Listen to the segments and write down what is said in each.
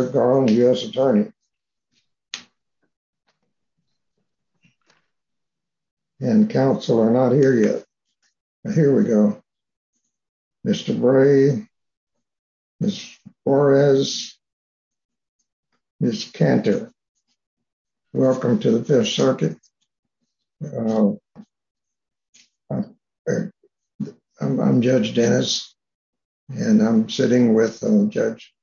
U.S. Attorney, and counsel are not here yet. Here we go. Mr. Bray, Ms. Flores, Ms. Cantor. Welcome to the Fifth Circuit. I'm Judge Dennis, and I'm sitting with Judge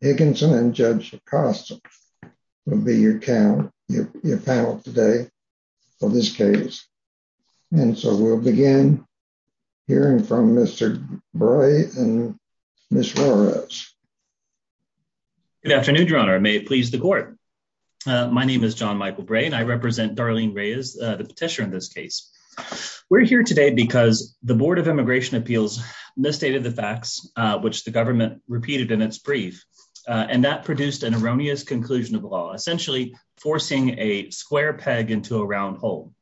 Higginson and Judge Acosta, who will be your panel today for this case. And so we'll begin hearing from Mr. Bray and Ms. Flores. Good afternoon, Your Honor. May it please the court. My name is John Michael Bray, and I represent Darlene Reyes, the petitioner in this case. We're here today because the Board of Immigration Appeals misstated the facts, which the government repeated in its brief, and that produced an erroneous conclusion of the law, essentially forcing a square peg into a round hole.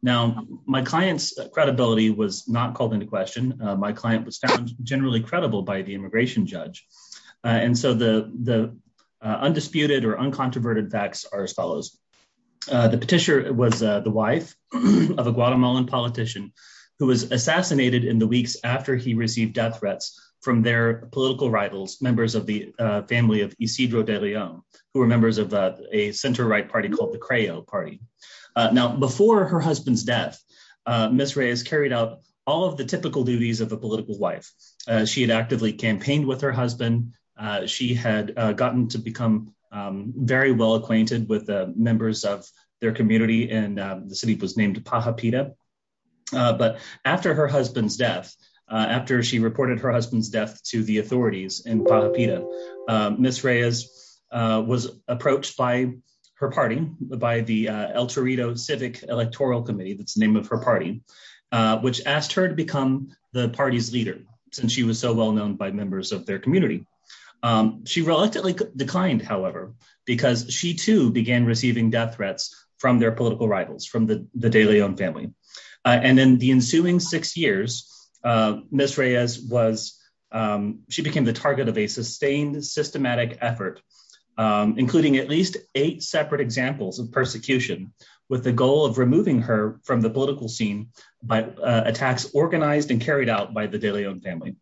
Now, my client's credibility was not called into question. My client was found generally credible by the immigration judge. And so the undisputed or uncontroverted facts are as follows. The petitioner was the wife of a Guatemalan politician who was assassinated in the weeks after he received death threats from their political rivals, members of the family of Isidro de León, who were members of a center-right party called the CREO party. Now, before her husband's death, Ms. Reyes carried out all of the typical duties of a political wife. She had actively campaigned with her husband. She had gotten to become very well acquainted with members of their community, and the city was named Pajapita. But after her husband's death, after she reported her husband's death to the authorities in Pajapita, Ms. Reyes was approached by her party, by the El Torito Civic Electoral Committee, that's the name of her party, which asked her to become the party's leader, since she was so well-known by members of their community. She reluctantly declined, however, because she too began receiving death threats from their political rivals, from the de León family. And in the ensuing six years, Ms. Reyes became the target of a sustained, systematic effort, including at least eight separate examples of persecution, with the goal of removing her from the political scene by attacks organized and carried out by the de León family.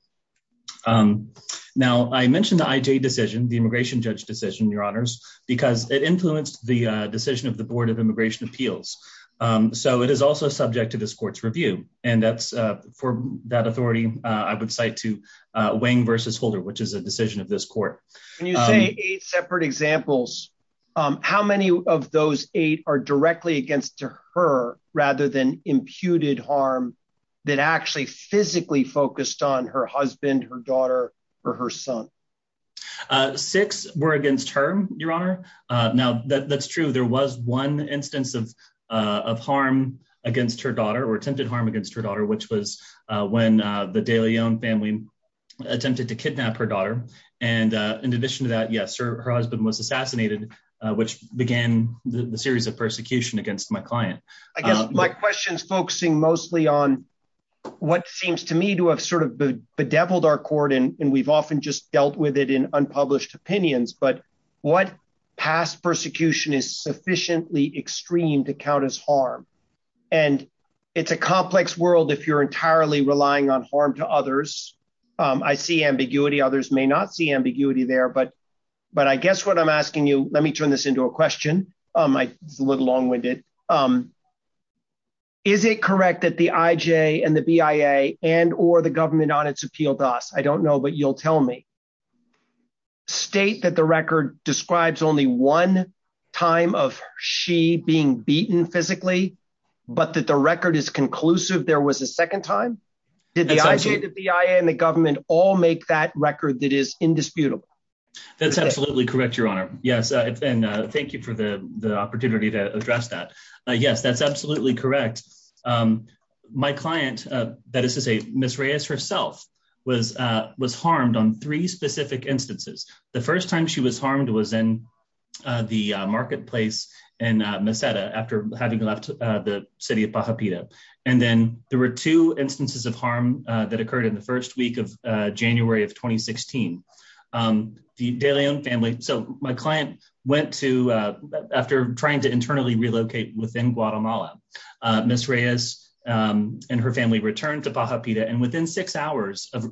Now, I mentioned the IJ decision, the immigration judge decision, Your Honors, because it influenced the decision of the Board of Immigration Appeals. So it is also subject to this court's review. And that's, for that authority, I would cite to Wang versus Holder, which is a decision of this court. When you say eight separate examples, how many of those eight are directly against her, rather than imputed harm that actually physically focused on her husband, her daughter, or her son? Six were against her, Your Honor. Now, that's true. There was one instance of harm against her daughter or attempted harm against her daughter, which was when the de León family attempted to kidnap her daughter. And in addition to that, yes, her husband was assassinated, which began the series of persecution against my client. I guess my question is focusing mostly on what seems to me to have sort of bedeviled our court, and we've often just dealt with it in unpublished opinions. But what past persecution is sufficiently extreme to count as harm? And it's a complex world if you're entirely relying on harm to others. I see ambiguity. Others may not see ambiguity there. But I guess what I'm asking you, let me turn this into a question. It's a little long-winded. Is it correct that the IJ and the BIA and or the government on its appeal to us? I don't know, but you'll tell me. State that the record describes only one time of she being beaten physically, but that the record is conclusive there was a second time? Did the IJ, the BIA, and the government all make that record that is indisputable? That's absolutely correct, Your Honor. Yes, and thank you for the opportunity to address that. Yes, that's absolutely correct. My client, that is to say, Ms. Reyes herself, was harmed on three specific instances. The first time she was harmed was in the marketplace in Meseta after having left the city of Pajapita. And then there were two instances of harm that occurred in the first week of January of 2016. The De Leon family, so my client went to, after trying to internally relocate within Guatemala, Ms. Reyes and her family returned to Pajapita. And within six hours of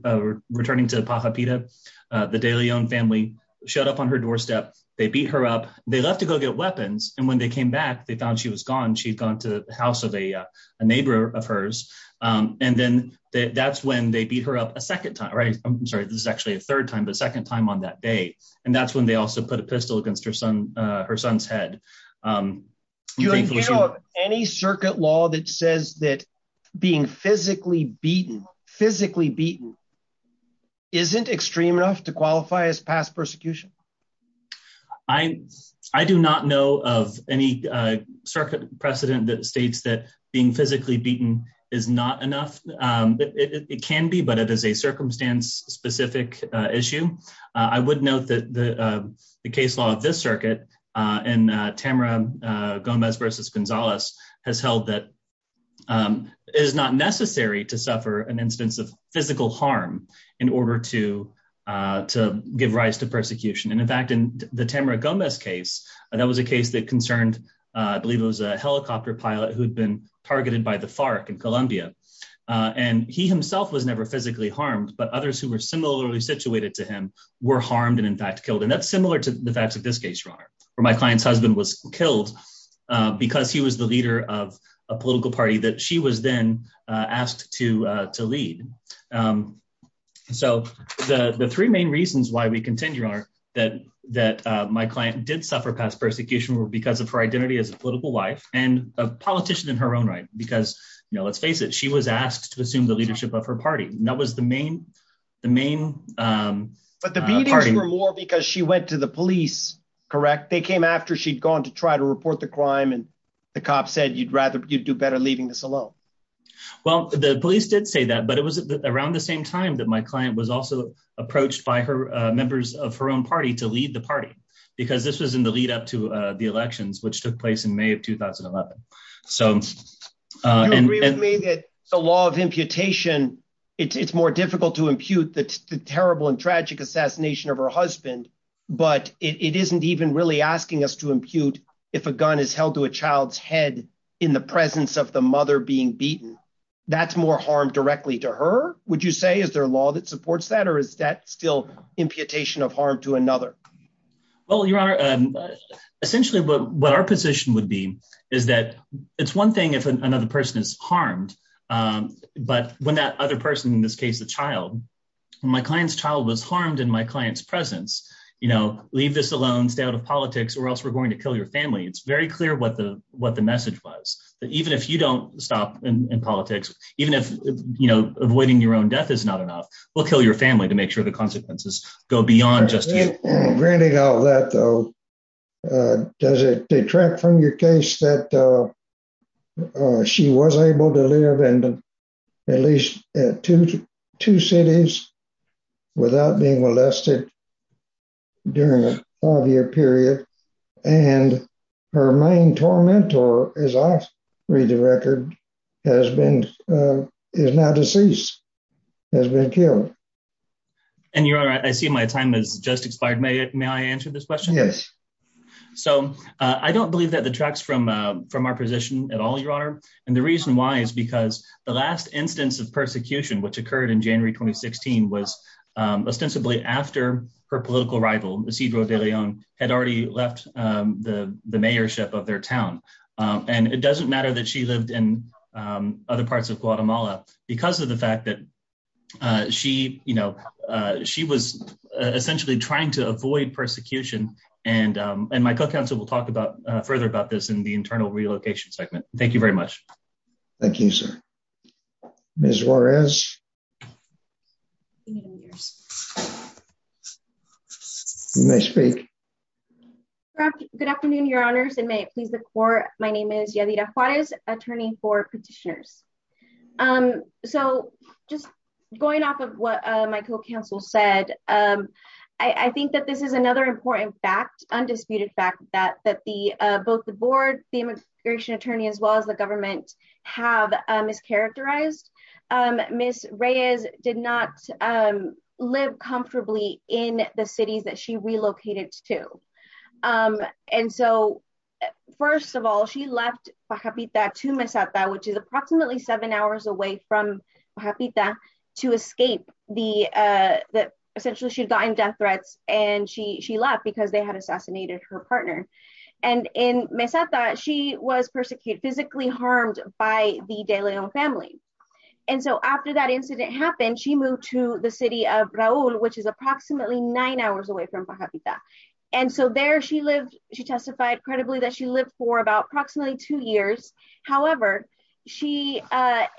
returning to Pajapita, the De Leon family showed up on her doorstep. They beat her up. They left to go get weapons. And when they came back, they found she was gone. She'd gone to the house of a neighbor of hers. And then that's when they beat her up a second time, right? I'm sorry, this is actually a third time, but second time on that day. And that's when they also put a pistol against her son's head. Do you know of any circuit law that says that being physically beaten, physically beaten, isn't extreme enough to qualify as past persecution? I do not know of any circuit precedent that states that being physically beaten is not enough. It can be, but it is a circumstance specific issue. I would note that the case law of this circuit in Tamara Gomez versus Gonzalez has held that it is not necessary to suffer an instance of physical harm in order to give rise to persecution. And in fact, in the Tamara Gomez case, that was a case that concerned, I believe it was a helicopter pilot who'd been targeted by the FARC in Colombia. And he himself was never physically harmed, but others who were similarly situated to him were harmed and in fact killed. And that's similar to the facts of this case, Your Honor, where my client's husband was killed because he was the leader of a political party that she was then asked to lead. So the three main reasons why we continue, Your Honor, that my client did suffer past persecution were because of her identity as a political wife and a politician in her own right, because, you know, let's face it, she was asked to assume the leadership of her party. And that was the main, the main... But the beatings were more because she went to the police, correct? They came after she'd gone to try to report the crime and the cops said, you'd rather, you'd do better leaving this alone. Well, the police did say that, but it was around the same time that my client was also approached by her members of her own party to lead the party, because this was in the lead up to the elections, which took place in May of 2011. Do you agree with me that the law of imputation, it's more difficult to impute the terrible and tragic assassination of her husband, but it isn't even really asking us to impute if a gun is held to a child's head in the presence of the mother being beaten. That's more harm directly to her, would you say? Is there a law that supports that or is that still imputation of harm to another? Well, Your Honor, essentially what our position would be is that it's one thing if another person is harmed. But when that other person, in this case, the child, my client's child was harmed in my client's presence, you know, leave this alone, stay out of politics or else we're going to kill your family. It's very clear what the message was, that even if you don't stop in politics, even if, you know, avoiding your own death is not enough, we'll kill your family to make sure the consequences go beyond just you. Granting all that, though, does it detract from your case that she was able to live in at least two cities without being molested during a five year period? And her main tormentor, as I read the record, is now deceased, has been killed. And Your Honor, I see my time has just expired. May I answer this question? Yes. So I don't believe that detracts from our position at all, Your Honor. And the reason why is because the last instance of persecution, which occurred in January 2016, was ostensibly after her political rival, Isidro de Leon, had already left the mayorship of their town. And it doesn't matter that she lived in other parts of Guatemala because of the fact that she, you know, she was essentially trying to avoid persecution. And my co-counsel will talk about further about this in the internal relocation segment. Thank you very much. Thank you, sir. Ms. Juarez? You may speak. Good afternoon, Your Honors, and may it please the court. My name is Yadira Juarez, attorney for petitioners. So just going off of what my co-counsel said, I think that this is another important fact, undisputed fact, that both the board, the immigration attorney, as well as the government, have mischaracterized. Ms. Reyes did not live comfortably in the cities that she relocated to. And so, first of all, she left Pajapita to Mesata, which is approximately seven hours away from Pajapita, to escape the, essentially she'd gotten death threats, and she left because they had assassinated her partner. And in Mesata, she was persecuted, physically harmed by the De Leon family. And so after that incident happened, she moved to the city of Raul, which is approximately nine hours away from Pajapita. And so there she lived, she testified credibly that she lived for about approximately two years. However, she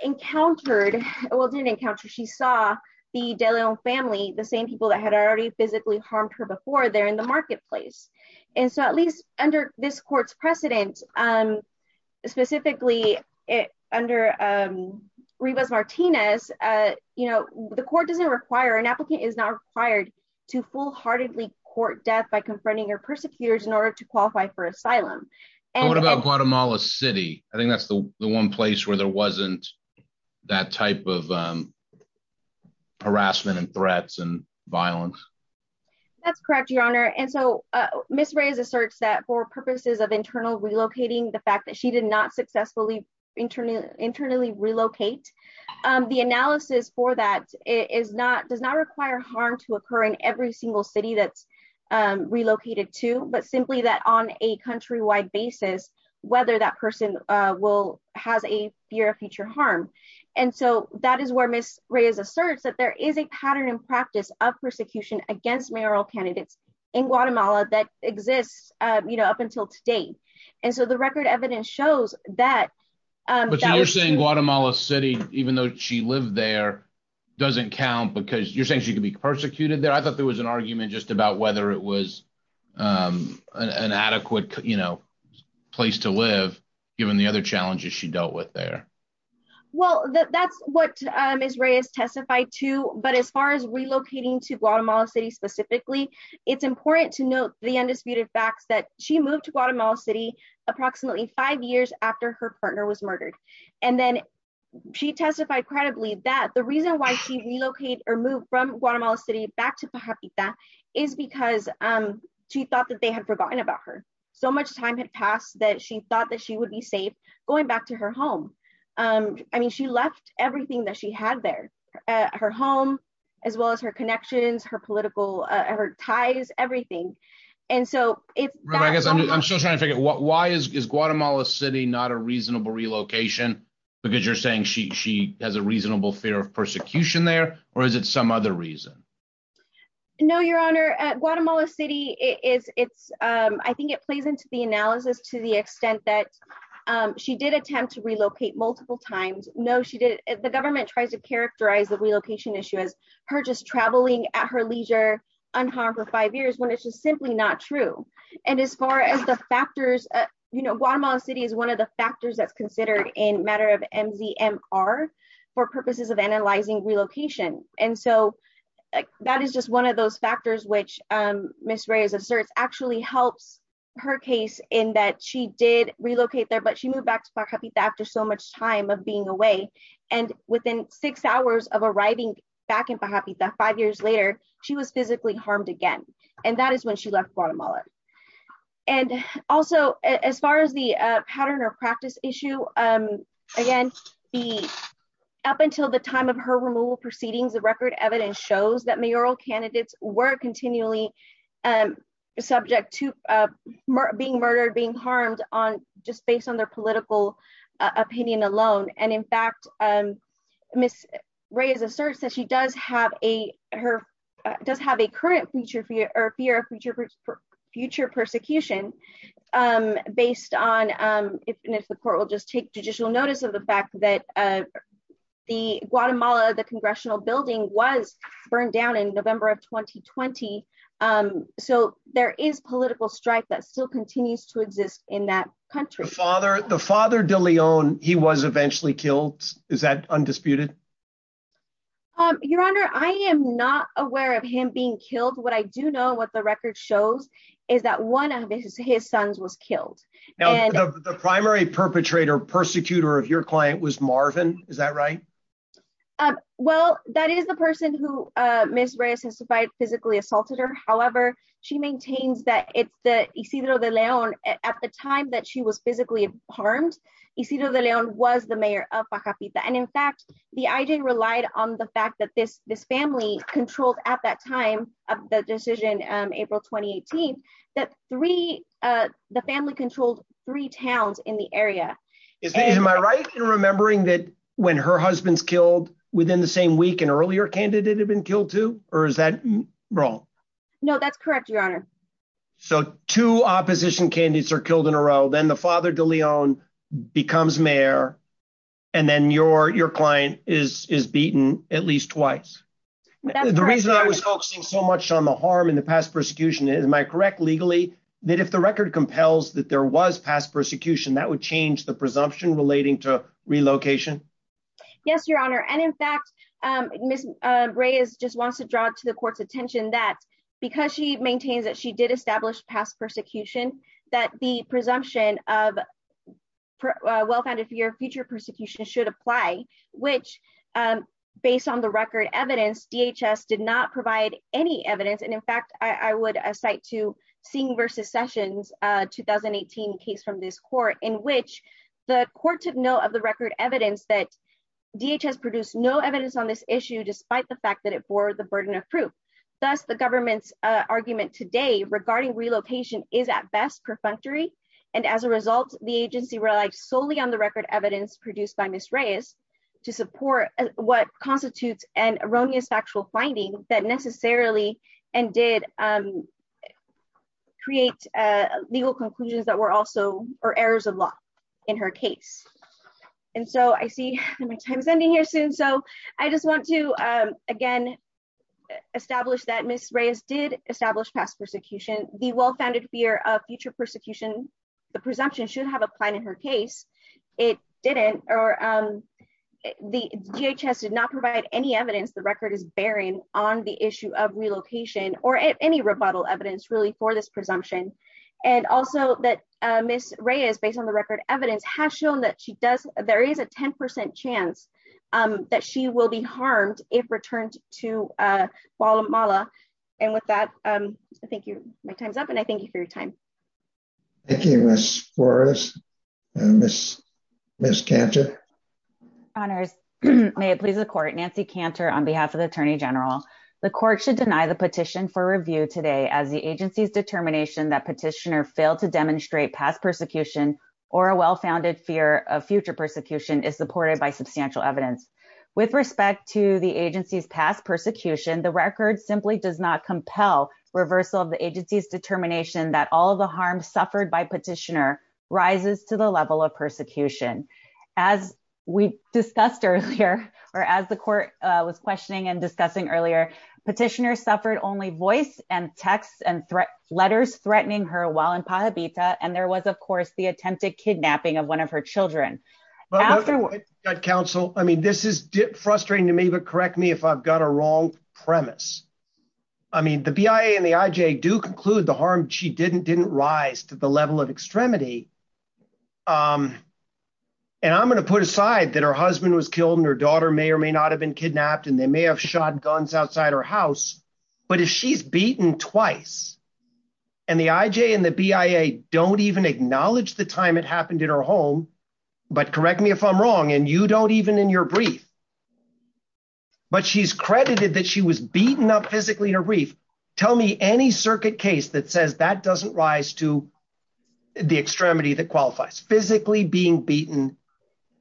encountered, well, didn't encounter, she saw the De Leon family, the same people that had already physically harmed her before, there in the marketplace. And so at least under this court's precedent, specifically under Rivas Martinez, you know, the court doesn't require, an applicant is not required to full-heartedly court death by confronting her persecutors in order to qualify for asylum. What about Guatemala City? I think that's the one place where there wasn't that type of harassment and threats and violence. That's correct, Your Honor. And so, Ms. Reyes asserts that for purposes of internal relocating, the fact that she did not successfully internally relocate, the analysis for that is not, does not require harm to occur in every single city that's relocated to, but simply that on a countrywide basis, whether that person will, has a fear of future harm. And so that is where Ms. Reyes asserts that there is a pattern and practice of persecution against mayoral candidates in Guatemala that exists, you know, up until today. And so the record evidence shows that. But you're saying Guatemala City, even though she lived there, doesn't count because you're saying she could be persecuted there? I thought there was an argument just about whether it was an adequate, you know, place to live, given the other challenges she dealt with there. Well, that's what Ms. Reyes testified to. But as far as relocating to Guatemala City specifically, it's important to note the undisputed facts that she moved to Guatemala City approximately five years after her partner was murdered. And then she testified credibly that the reason why she relocated or moved from Guatemala City back to Pajarita is because she thought that they had forgotten about her. So much time had passed that she thought that she would be safe going back to her home. I mean, she left everything that she had there, her home, as well as her connections, her political ties, everything. I guess I'm still trying to figure out why is Guatemala City not a reasonable relocation? Because you're saying she has a reasonable fear of persecution there? Or is it some other reason? No, Your Honor. Guatemala City, I think it plays into the analysis to the extent that she did attempt to relocate multiple times. The government tries to characterize the relocation issue as her just traveling at her leisure unharmed for five years when it's just simply not true. And as far as the factors, Guatemala City is one of the factors that's considered in matter of MZMR for purposes of analyzing relocation. And so that is just one of those factors which Ms. Reyes asserts actually helps her case in that she did relocate there, but she moved back to Pajarita after so much time of being away. And within six hours of arriving back in Pajarita, five years later, she was physically harmed again. And that is when she left Guatemala. And also, as far as the pattern or practice issue, again, up until the time of her removal proceedings, the record evidence shows that mayoral candidates were continually subject to being murdered, being harmed on just based on their political opinion alone. And in fact, Ms. Reyes asserts that she does have a current fear of future persecution based on if the court will just take judicial notice of the fact that the Guatemala, the congressional building, was burned down in November of 2020. So there is political strife that still continues to exist in that country. The father, the father de Leon, he was eventually killed. Is that undisputed? Your Honor, I am not aware of him being killed. What I do know, what the record shows, is that one of his sons was killed. The primary perpetrator, persecutor of your client was Marvin. Is that right? Well, that is the person who Ms. Reyes testified physically assaulted her. However, she maintains that it's the Isidro de Leon, at the time that she was physically harmed, Isidro de Leon was the mayor of Pajarita. And in fact, the IJ relied on the fact that this family controlled at that time of the decision, April 2018, that three, the family controlled three towns in the area. Am I right in remembering that when her husband's killed within the same week, an earlier candidate had been killed too? Or is that wrong? No, that's correct, Your Honor. So two opposition candidates are killed in a row, then the father de Leon becomes mayor, and then your client is beaten at least twice. The reason I was focusing so much on the harm in the past persecution, am I correct legally, that if the record compels that there was past persecution, that would change the presumption relating to relocation? Yes, Your Honor. And in fact, Ms. Reyes just wants to draw to the court's attention that because she maintains that she did establish past persecution, that the presumption of well-founded fear of future persecution should apply, which based on the record evidence, DHS did not provide any evidence. And in fact, I would cite to Singh versus Sessions 2018 case from this court in which the court took note of the record evidence that DHS produced no evidence on this issue, despite the fact that it bore the burden of proof. Thus, the government's argument today regarding relocation is at best perfunctory. And as a result, the agency relies solely on the record evidence produced by Ms. Reyes to support what constitutes an erroneous factual finding that necessarily and did create legal conclusions that were also errors of law in her case. And so I see my time is ending here soon. So I just want to, again, establish that Ms. Reyes did establish past persecution. The well-founded fear of future persecution, the presumption should have applied in her case. It didn't. Or the DHS did not provide any evidence the record is bearing on the issue of relocation or any rebuttal evidence really for this presumption. And also that Ms. Reyes, based on the record evidence, has shown that she does, there is a 10% chance that she will be harmed if returned to Guatemala. And with that, thank you. My time's up and I thank you for your time. Thank you, Ms. Flores. Ms. Cantor. May it please the court, Nancy Cantor on behalf of the Attorney General. The court should deny the petition for review today as the agency's determination that petitioner failed to demonstrate past persecution or a well-founded fear of future persecution is supported by substantial evidence. With respect to the agency's past persecution, the record simply does not compel reversal of the agency's determination that all of the harm suffered by petitioner rises to the level of persecution. As we discussed earlier, or as the court was questioning and discussing earlier, petitioner suffered only voice and texts and letters threatening her while in Pajabita. And there was, of course, the attempted kidnapping of one of her children. Counsel, I mean, this is frustrating to me, but correct me if I've got a wrong premise. I mean, the BIA and the IJ do conclude the harm she didn't didn't rise to the level of extremity. And I'm going to put aside that her husband was killed and her daughter may or may not have been kidnapped and they may have shot guns outside her house. But if she's beaten twice and the IJ and the BIA don't even acknowledge the time it happened in her home. But correct me if I'm wrong and you don't even in your brief. But she's credited that she was beaten up physically in her brief. Tell me any circuit case that says that doesn't rise to the extremity that qualifies. Physically being beaten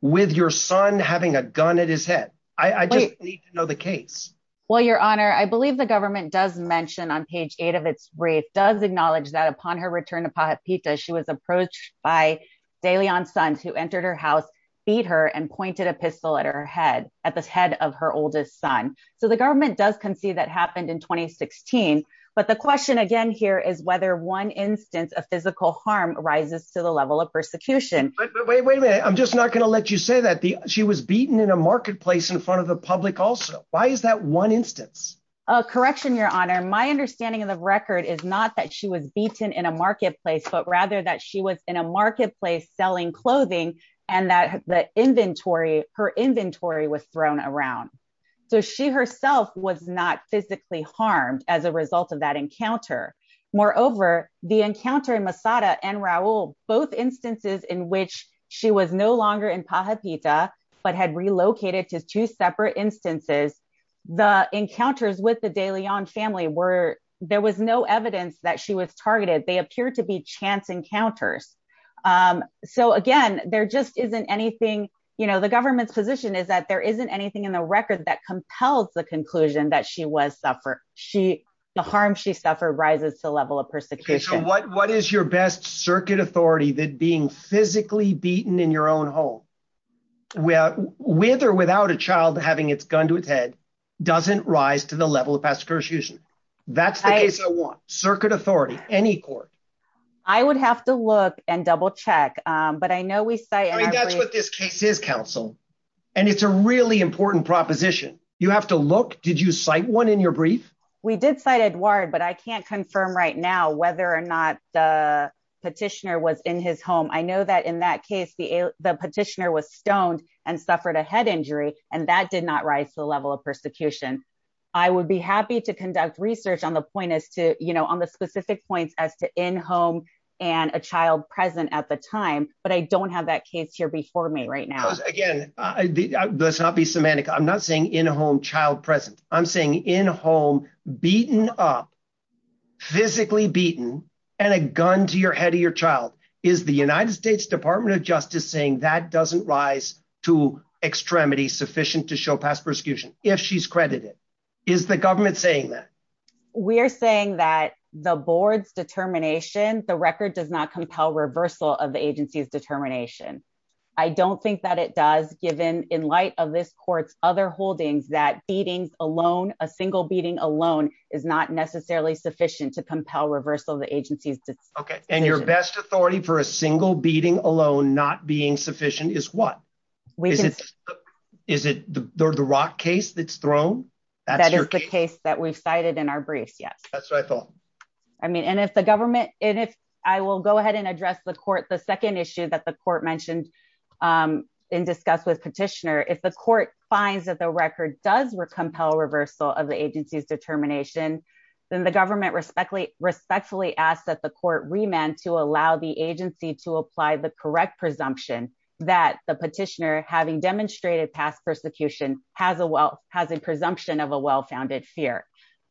with your son having a gun at his head. I just need to know the case. Well, Your Honor, I believe the government does mention on page eight of its brief does acknowledge that upon her return to Pajabita, she was approached by De Leon's sons who entered her house, beat her and pointed a pistol at her head at the head of her oldest son. So the government does concede that happened in 2016. But the question again here is whether one instance of physical harm rises to the level of persecution. Wait a minute. I'm just not going to let you say that. She was beaten in a marketplace in front of the public also. Why is that one instance? Correction, Your Honor. My understanding of the record is not that she was beaten in a marketplace, but rather that she was in a marketplace selling clothing and that her inventory was thrown around. So she herself was not physically harmed as a result of that encounter. Moreover, the encounter in Masada and Raul, both instances in which she was no longer in Pajabita, but had relocated to two separate instances. The encounters with the De Leon family were there was no evidence that she was targeted. They appear to be chance encounters. So, again, there just isn't anything, you know, the government's position is that there isn't anything in the record that compels the conclusion that she was suffered. The harm she suffered rises to the level of persecution. What is your best circuit authority that being physically beaten in your own home with or without a child having its gun to its head doesn't rise to the level of persecution? That's the case I want. Circuit authority, any court. I would have to look and double check, but I know we say that's what this case is, counsel, and it's a really important proposition. You have to look. Did you cite one in your brief? We did cite Edward, but I can't confirm right now whether or not the petitioner was in his home. I know that in that case, the petitioner was stoned and suffered a head injury, and that did not rise to the level of persecution. I would be happy to conduct research on the point as to, you know, on the specific points as to in home and a child present at the time, but I don't have that case here before me right now. Again, let's not be semantic. I'm not saying in home, child present. I'm saying in home, beaten up, physically beaten, and a gun to your head or your child. Is the United States Department of Justice saying that doesn't rise to extremity sufficient to show past persecution if she's credited? Is the government saying that? We're saying that the board's determination, the record does not compel reversal of the agency's determination. I don't think that it does, given in light of this court's other holdings that beatings alone, a single beating alone is not necessarily sufficient to compel reversal of the agency's determination. Okay, and your best authority for a single beating alone not being sufficient is what? Is it the Rock case that's thrown? That is the case that we've cited in our briefs, yes. That's what I thought. I mean, and if the government, and if I will go ahead and address the court, the second issue that the court mentioned in discuss with petitioner, if the court finds that the record does compel reversal of the agency's determination, then the government respectfully asks that the court remand to allow the agency to apply the correct presumption that the petitioner, having demonstrated past persecution, has a presumption of a well-founded fear.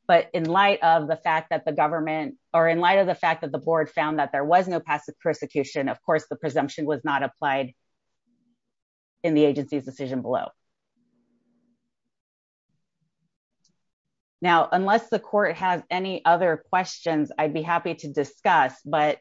But in light of the fact that the government, or in light of the fact that the board found that there was no past persecution, of course the presumption was not applied in the agency's decision below. Now, unless the court has any other questions, I'd be happy to discuss, but,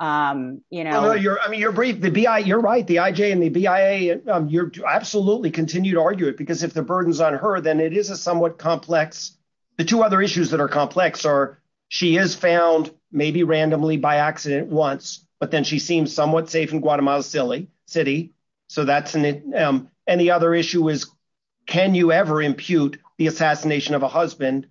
you know. I mean, you're right, the IJ and the BIA, you absolutely continue to argue it, because if the burden's on her, then it is a somewhat complex, the two other issues that are complex are, she is found maybe randomly by accident once, but then she seems somewhat safe in Guatemala City. So that's, and the other issue is, can you ever impute the assassination of a husband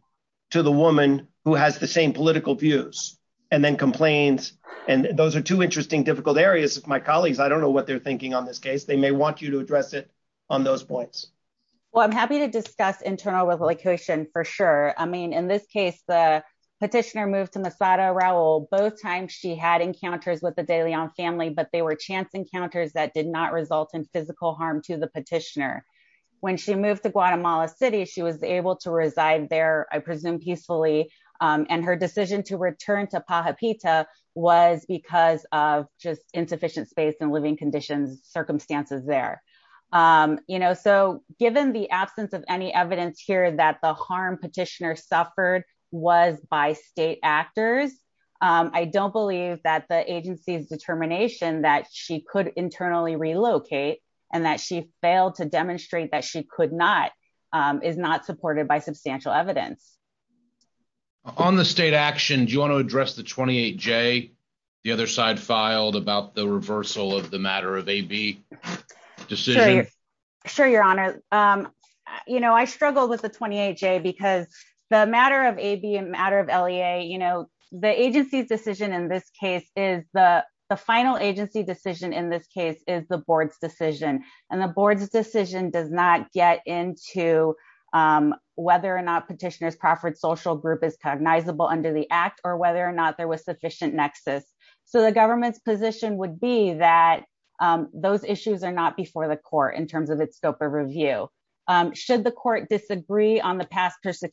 to the woman who has the same political views, and then complains, and those are two interesting difficult areas. My colleagues, I don't know what they're thinking on this case, they may want you to address it on those points. Well, I'm happy to discuss internal relocation for sure. I mean, in this case, the petitioner moved to Masada Raul, both times she had encounters with the de Leon family but they were chance encounters that did not result in physical harm to the petitioner. When she moved to Guatemala City she was able to reside there, I presume peacefully, and her decision to return to Pajapita was because of just insufficient space and living conditions circumstances there. You know, so, given the absence of any evidence here that the harm petitioner suffered was by state actors. I don't believe that the agency's determination that she could internally relocate, and that she failed to demonstrate that she could not is not supported by substantial evidence on the state action do you want to address the 28 J. The other side filed about the reversal of the matter of a B decision. Sure, Your Honor. You know I struggled with the 28 J because the matter of a B matter of la you know the agency's decision in this case is the final agency decision in this case is the board's decision, and the board's decision does not get into whether or not petitioners and the Crawford social group is cognizable under the act or whether or not there was sufficient nexus. So the government's position would be that those issues are not before the court in terms of its scope of review, should the court disagree on the past matter of a B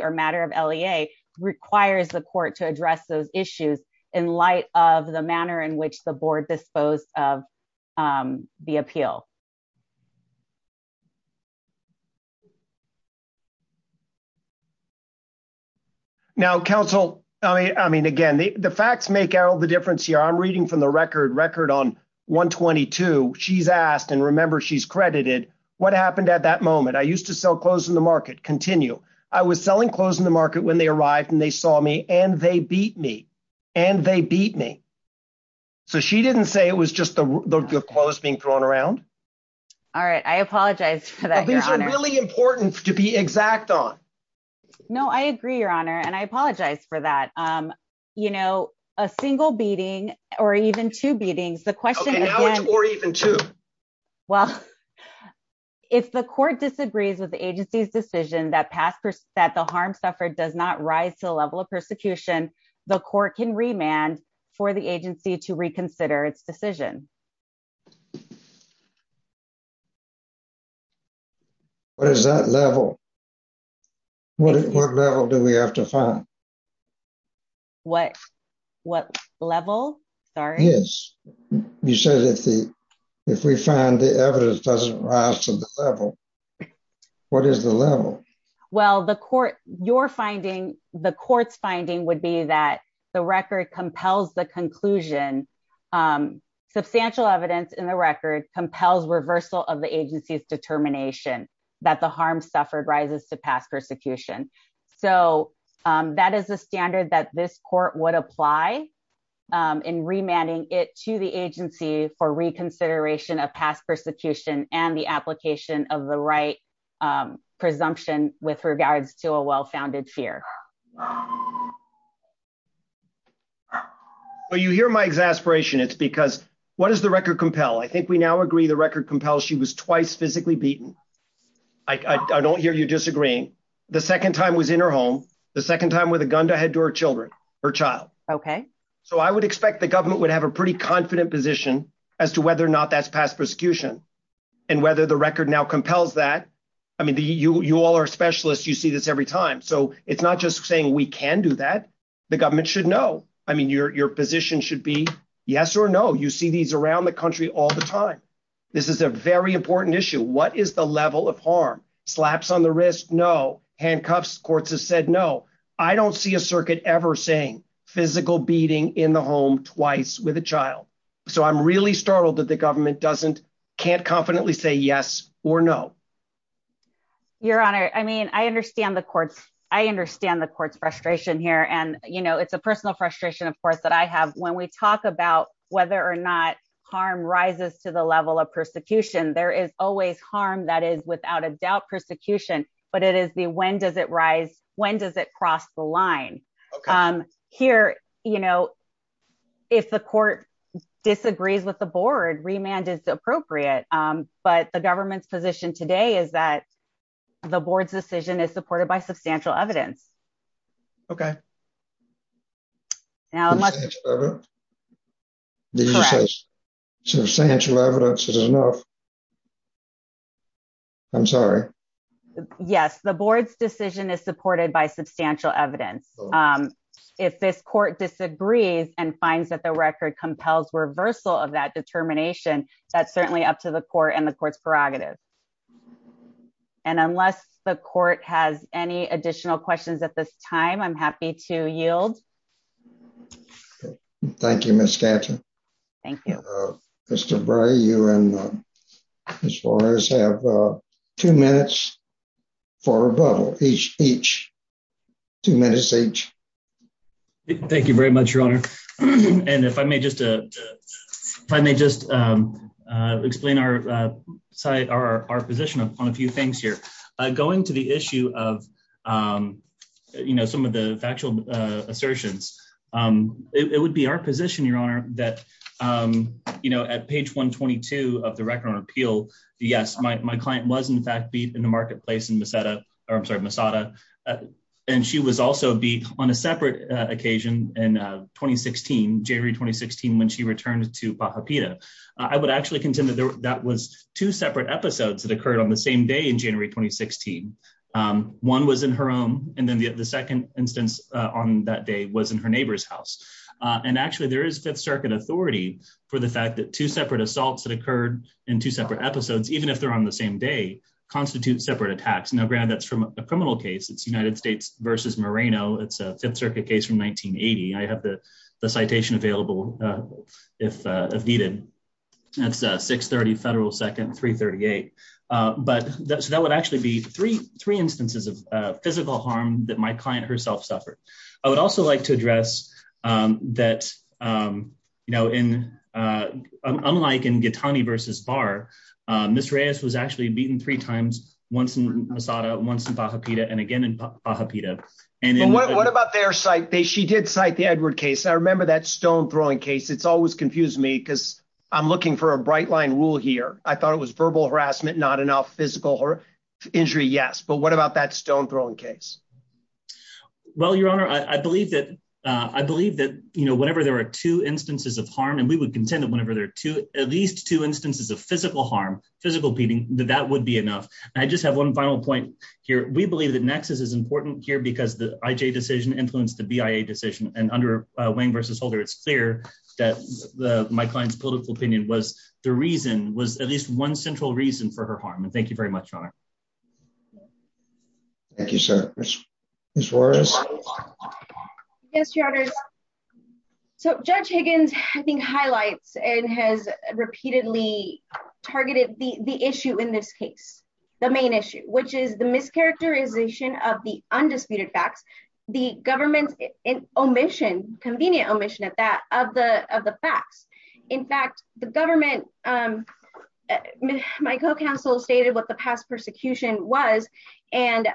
or matter of la requires the court to address those issues in light of the manner in which the board dispose of the appeal. Thank you. Now Council. I mean, again, the facts make all the difference here I'm reading from the record record on 122, she's asked and remember she's credited. What happened at that moment I used to sell clothes in the market continue. I was selling clothes in the market when they arrived and they saw me and they beat me, and they beat me. So she didn't say it was just the clothes being thrown around. All right, I apologize for that really important to be exact on. No, I agree, Your Honor, and I apologize for that. You know, a single beating, or even two beatings the question, or even two. Well, if the court disagrees with the agency's decision that past that the harm suffered does not rise to the level of persecution, the court can remand for the agency to reconsider its decision. What is that level. What level do we have to find what, what level. Sorry. Yes. You said if the, if we find the evidence doesn't rise to the level. What is the level. Well the court, you're finding the court's finding would be that the record compels the conclusion substantial evidence in the record compels reversal of the agency's determination that the harm suffered rises to pass persecution. So, that is the standard that this court would apply in remanding it to the agency for reconsideration of past persecution and the application of the right presumption, with regards to a well founded fear. Well you hear my exasperation it's because what is the record compel I think we now agree the record compels she was twice physically beaten. I don't hear you disagreeing. The second time was in her home. The second time with a gun to head to her children, her child. Okay, so I would expect the government would have a pretty confident position as to whether or not that's past persecution, and whether the record now compels that. I mean the you all are specialists you see this every time so it's not just saying we can do that. The government should know, I mean your position should be yes or no you see these around the country all the time. This is a very important issue what is the level of harm slaps on the wrist no handcuffs courts have said no. I don't see a circuit ever saying physical beating in the home twice with a child. So I'm really startled that the government doesn't can't confidently say yes or no. Your Honor, I mean I understand the courts. I understand the courts frustration here and you know it's a personal frustration of course that I have when we talk about whether or not harm rises to the level of persecution, there is always harm that is without a doubt persecution, but it is the when does it rise, when does it cross the line. Here, you know, if the court disagrees with the board remand is appropriate, but the government's position today is that the board's decision is supported by substantial evidence. Okay. Now, substantial evidence is enough. I'm sorry. Yes, the board's decision is supported by substantial evidence. If this court disagrees and finds that the record compels reversal of that determination. That's certainly up to the core and the courts prerogative. And unless the court has any additional questions at this time I'm happy to yield. Thank you, Mr. Thank you. Mr. As far as have two minutes for each, each two minutes each. Thank you very much, Your Honor. And if I may just, if I may just explain our site our position on a few things here, going to the issue of, you know, some of the factual assertions. It would be our position, Your Honor, that, you know, at page 122 of the record on appeal. Yes, my client was in fact beat in the marketplace in the setup, or I'm sorry Masada. And she was also be on a separate occasion, and 2016 January 2016 when she returned to Baja Peter, I would actually contend that that was two separate episodes that occurred on the same day in January 2016. One was in her own, and then the second instance on that day was in her neighbor's house. And actually there is Fifth Circuit authority for the fact that two separate assaults that occurred in two separate episodes, even if they're on the same day constitute separate attacks now grab that's from a criminal case it's United States versus Moreno it's a Fifth Circuit case from 1980 I have the citation available. If needed. That's 630 federal second 338, but that's that would actually be three, three instances of physical harm that my client herself suffered. I would also like to address that, you know, in unlike in get tiny versus bar. Miss Reyes was actually beaten three times, once in Masada once in Baja Peter and again in Baja Peter, and then what about their site they she did cite the Edward case I remember that stone throwing case it's always confused me because I'm looking for a bright line rule here, I thought it was verbal harassment not enough physical or injury Yes, but what about that stone throwing case. Well, Your Honor, I believe that I believe that, you know, whenever there are two instances of harm and we would contend that whenever there are two, at least two instances of physical harm physical beating that that would be enough. I just have one final point here, we believe that nexus is important here because the IJ decision influence the BIA decision and under Wayne versus holder it's clear that my clients political opinion was the reason was at least one central reason for her harm and thank you very much. Thank you, sir. Yes, Your Honor. So Judge Higgins, I think highlights and has repeatedly targeted the the issue in this case, the main issue which is the mischaracterization of the undisputed facts, the government in omission convenient omission of that of the of the facts. In fact, the government. My co counsel stated what the past persecution was. And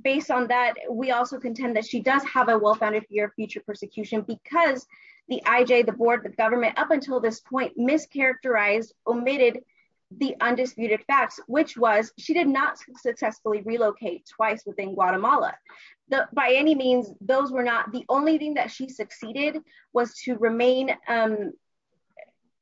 based on that, we also contend that she does have a well founded your future persecution because the IJ the board the government up until this point mischaracterized omitted the undisputed facts, which was, which was, she did not successfully relocate twice within Guatemala, the by any means, those were not the only thing that she succeeded was to remain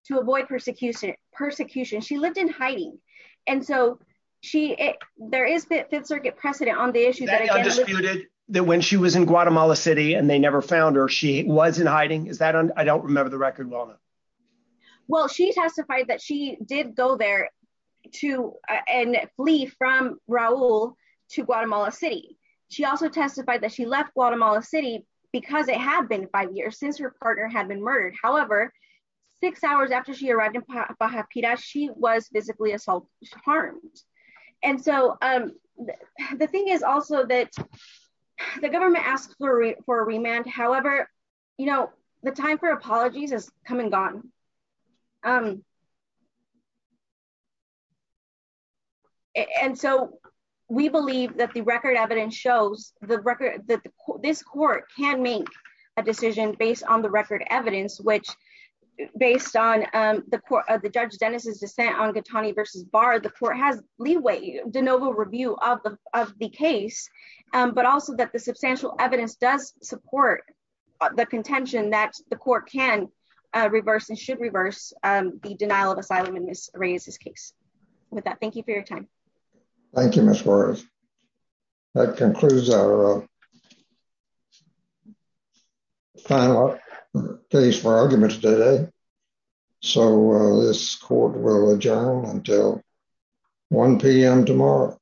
to avoid persecution persecution she lived in hiding. And so, she, there is a bit Fifth Circuit precedent on the issue that I disputed that when she was in Guatemala City and they never found her she wasn't hiding is that I don't remember the record well. Well, she testified that she did go there to and leave from Raul to Guatemala City. She also testified that she left Guatemala City, because it had been five years since her partner had been murdered. However, six hours after she arrived in Pajarita she was physically assault harmed. And so, um, the thing is also that the government asked for a remand However, you know, the time for apologies has come and gone. Um, and so we believe that the record evidence shows the record that this court can make a decision based on the record evidence which, based on the court of the judge Dennis's dissent on good Tony versus bar the court has leeway de novo review of the, of the case, but also that the substantial evidence does support the contention that the court can reverse and should reverse the denial of asylum and this raises case with that thank you for your time. Thank you. That concludes our final days for argument today. So, this court will adjourn until 1pm tomorrow.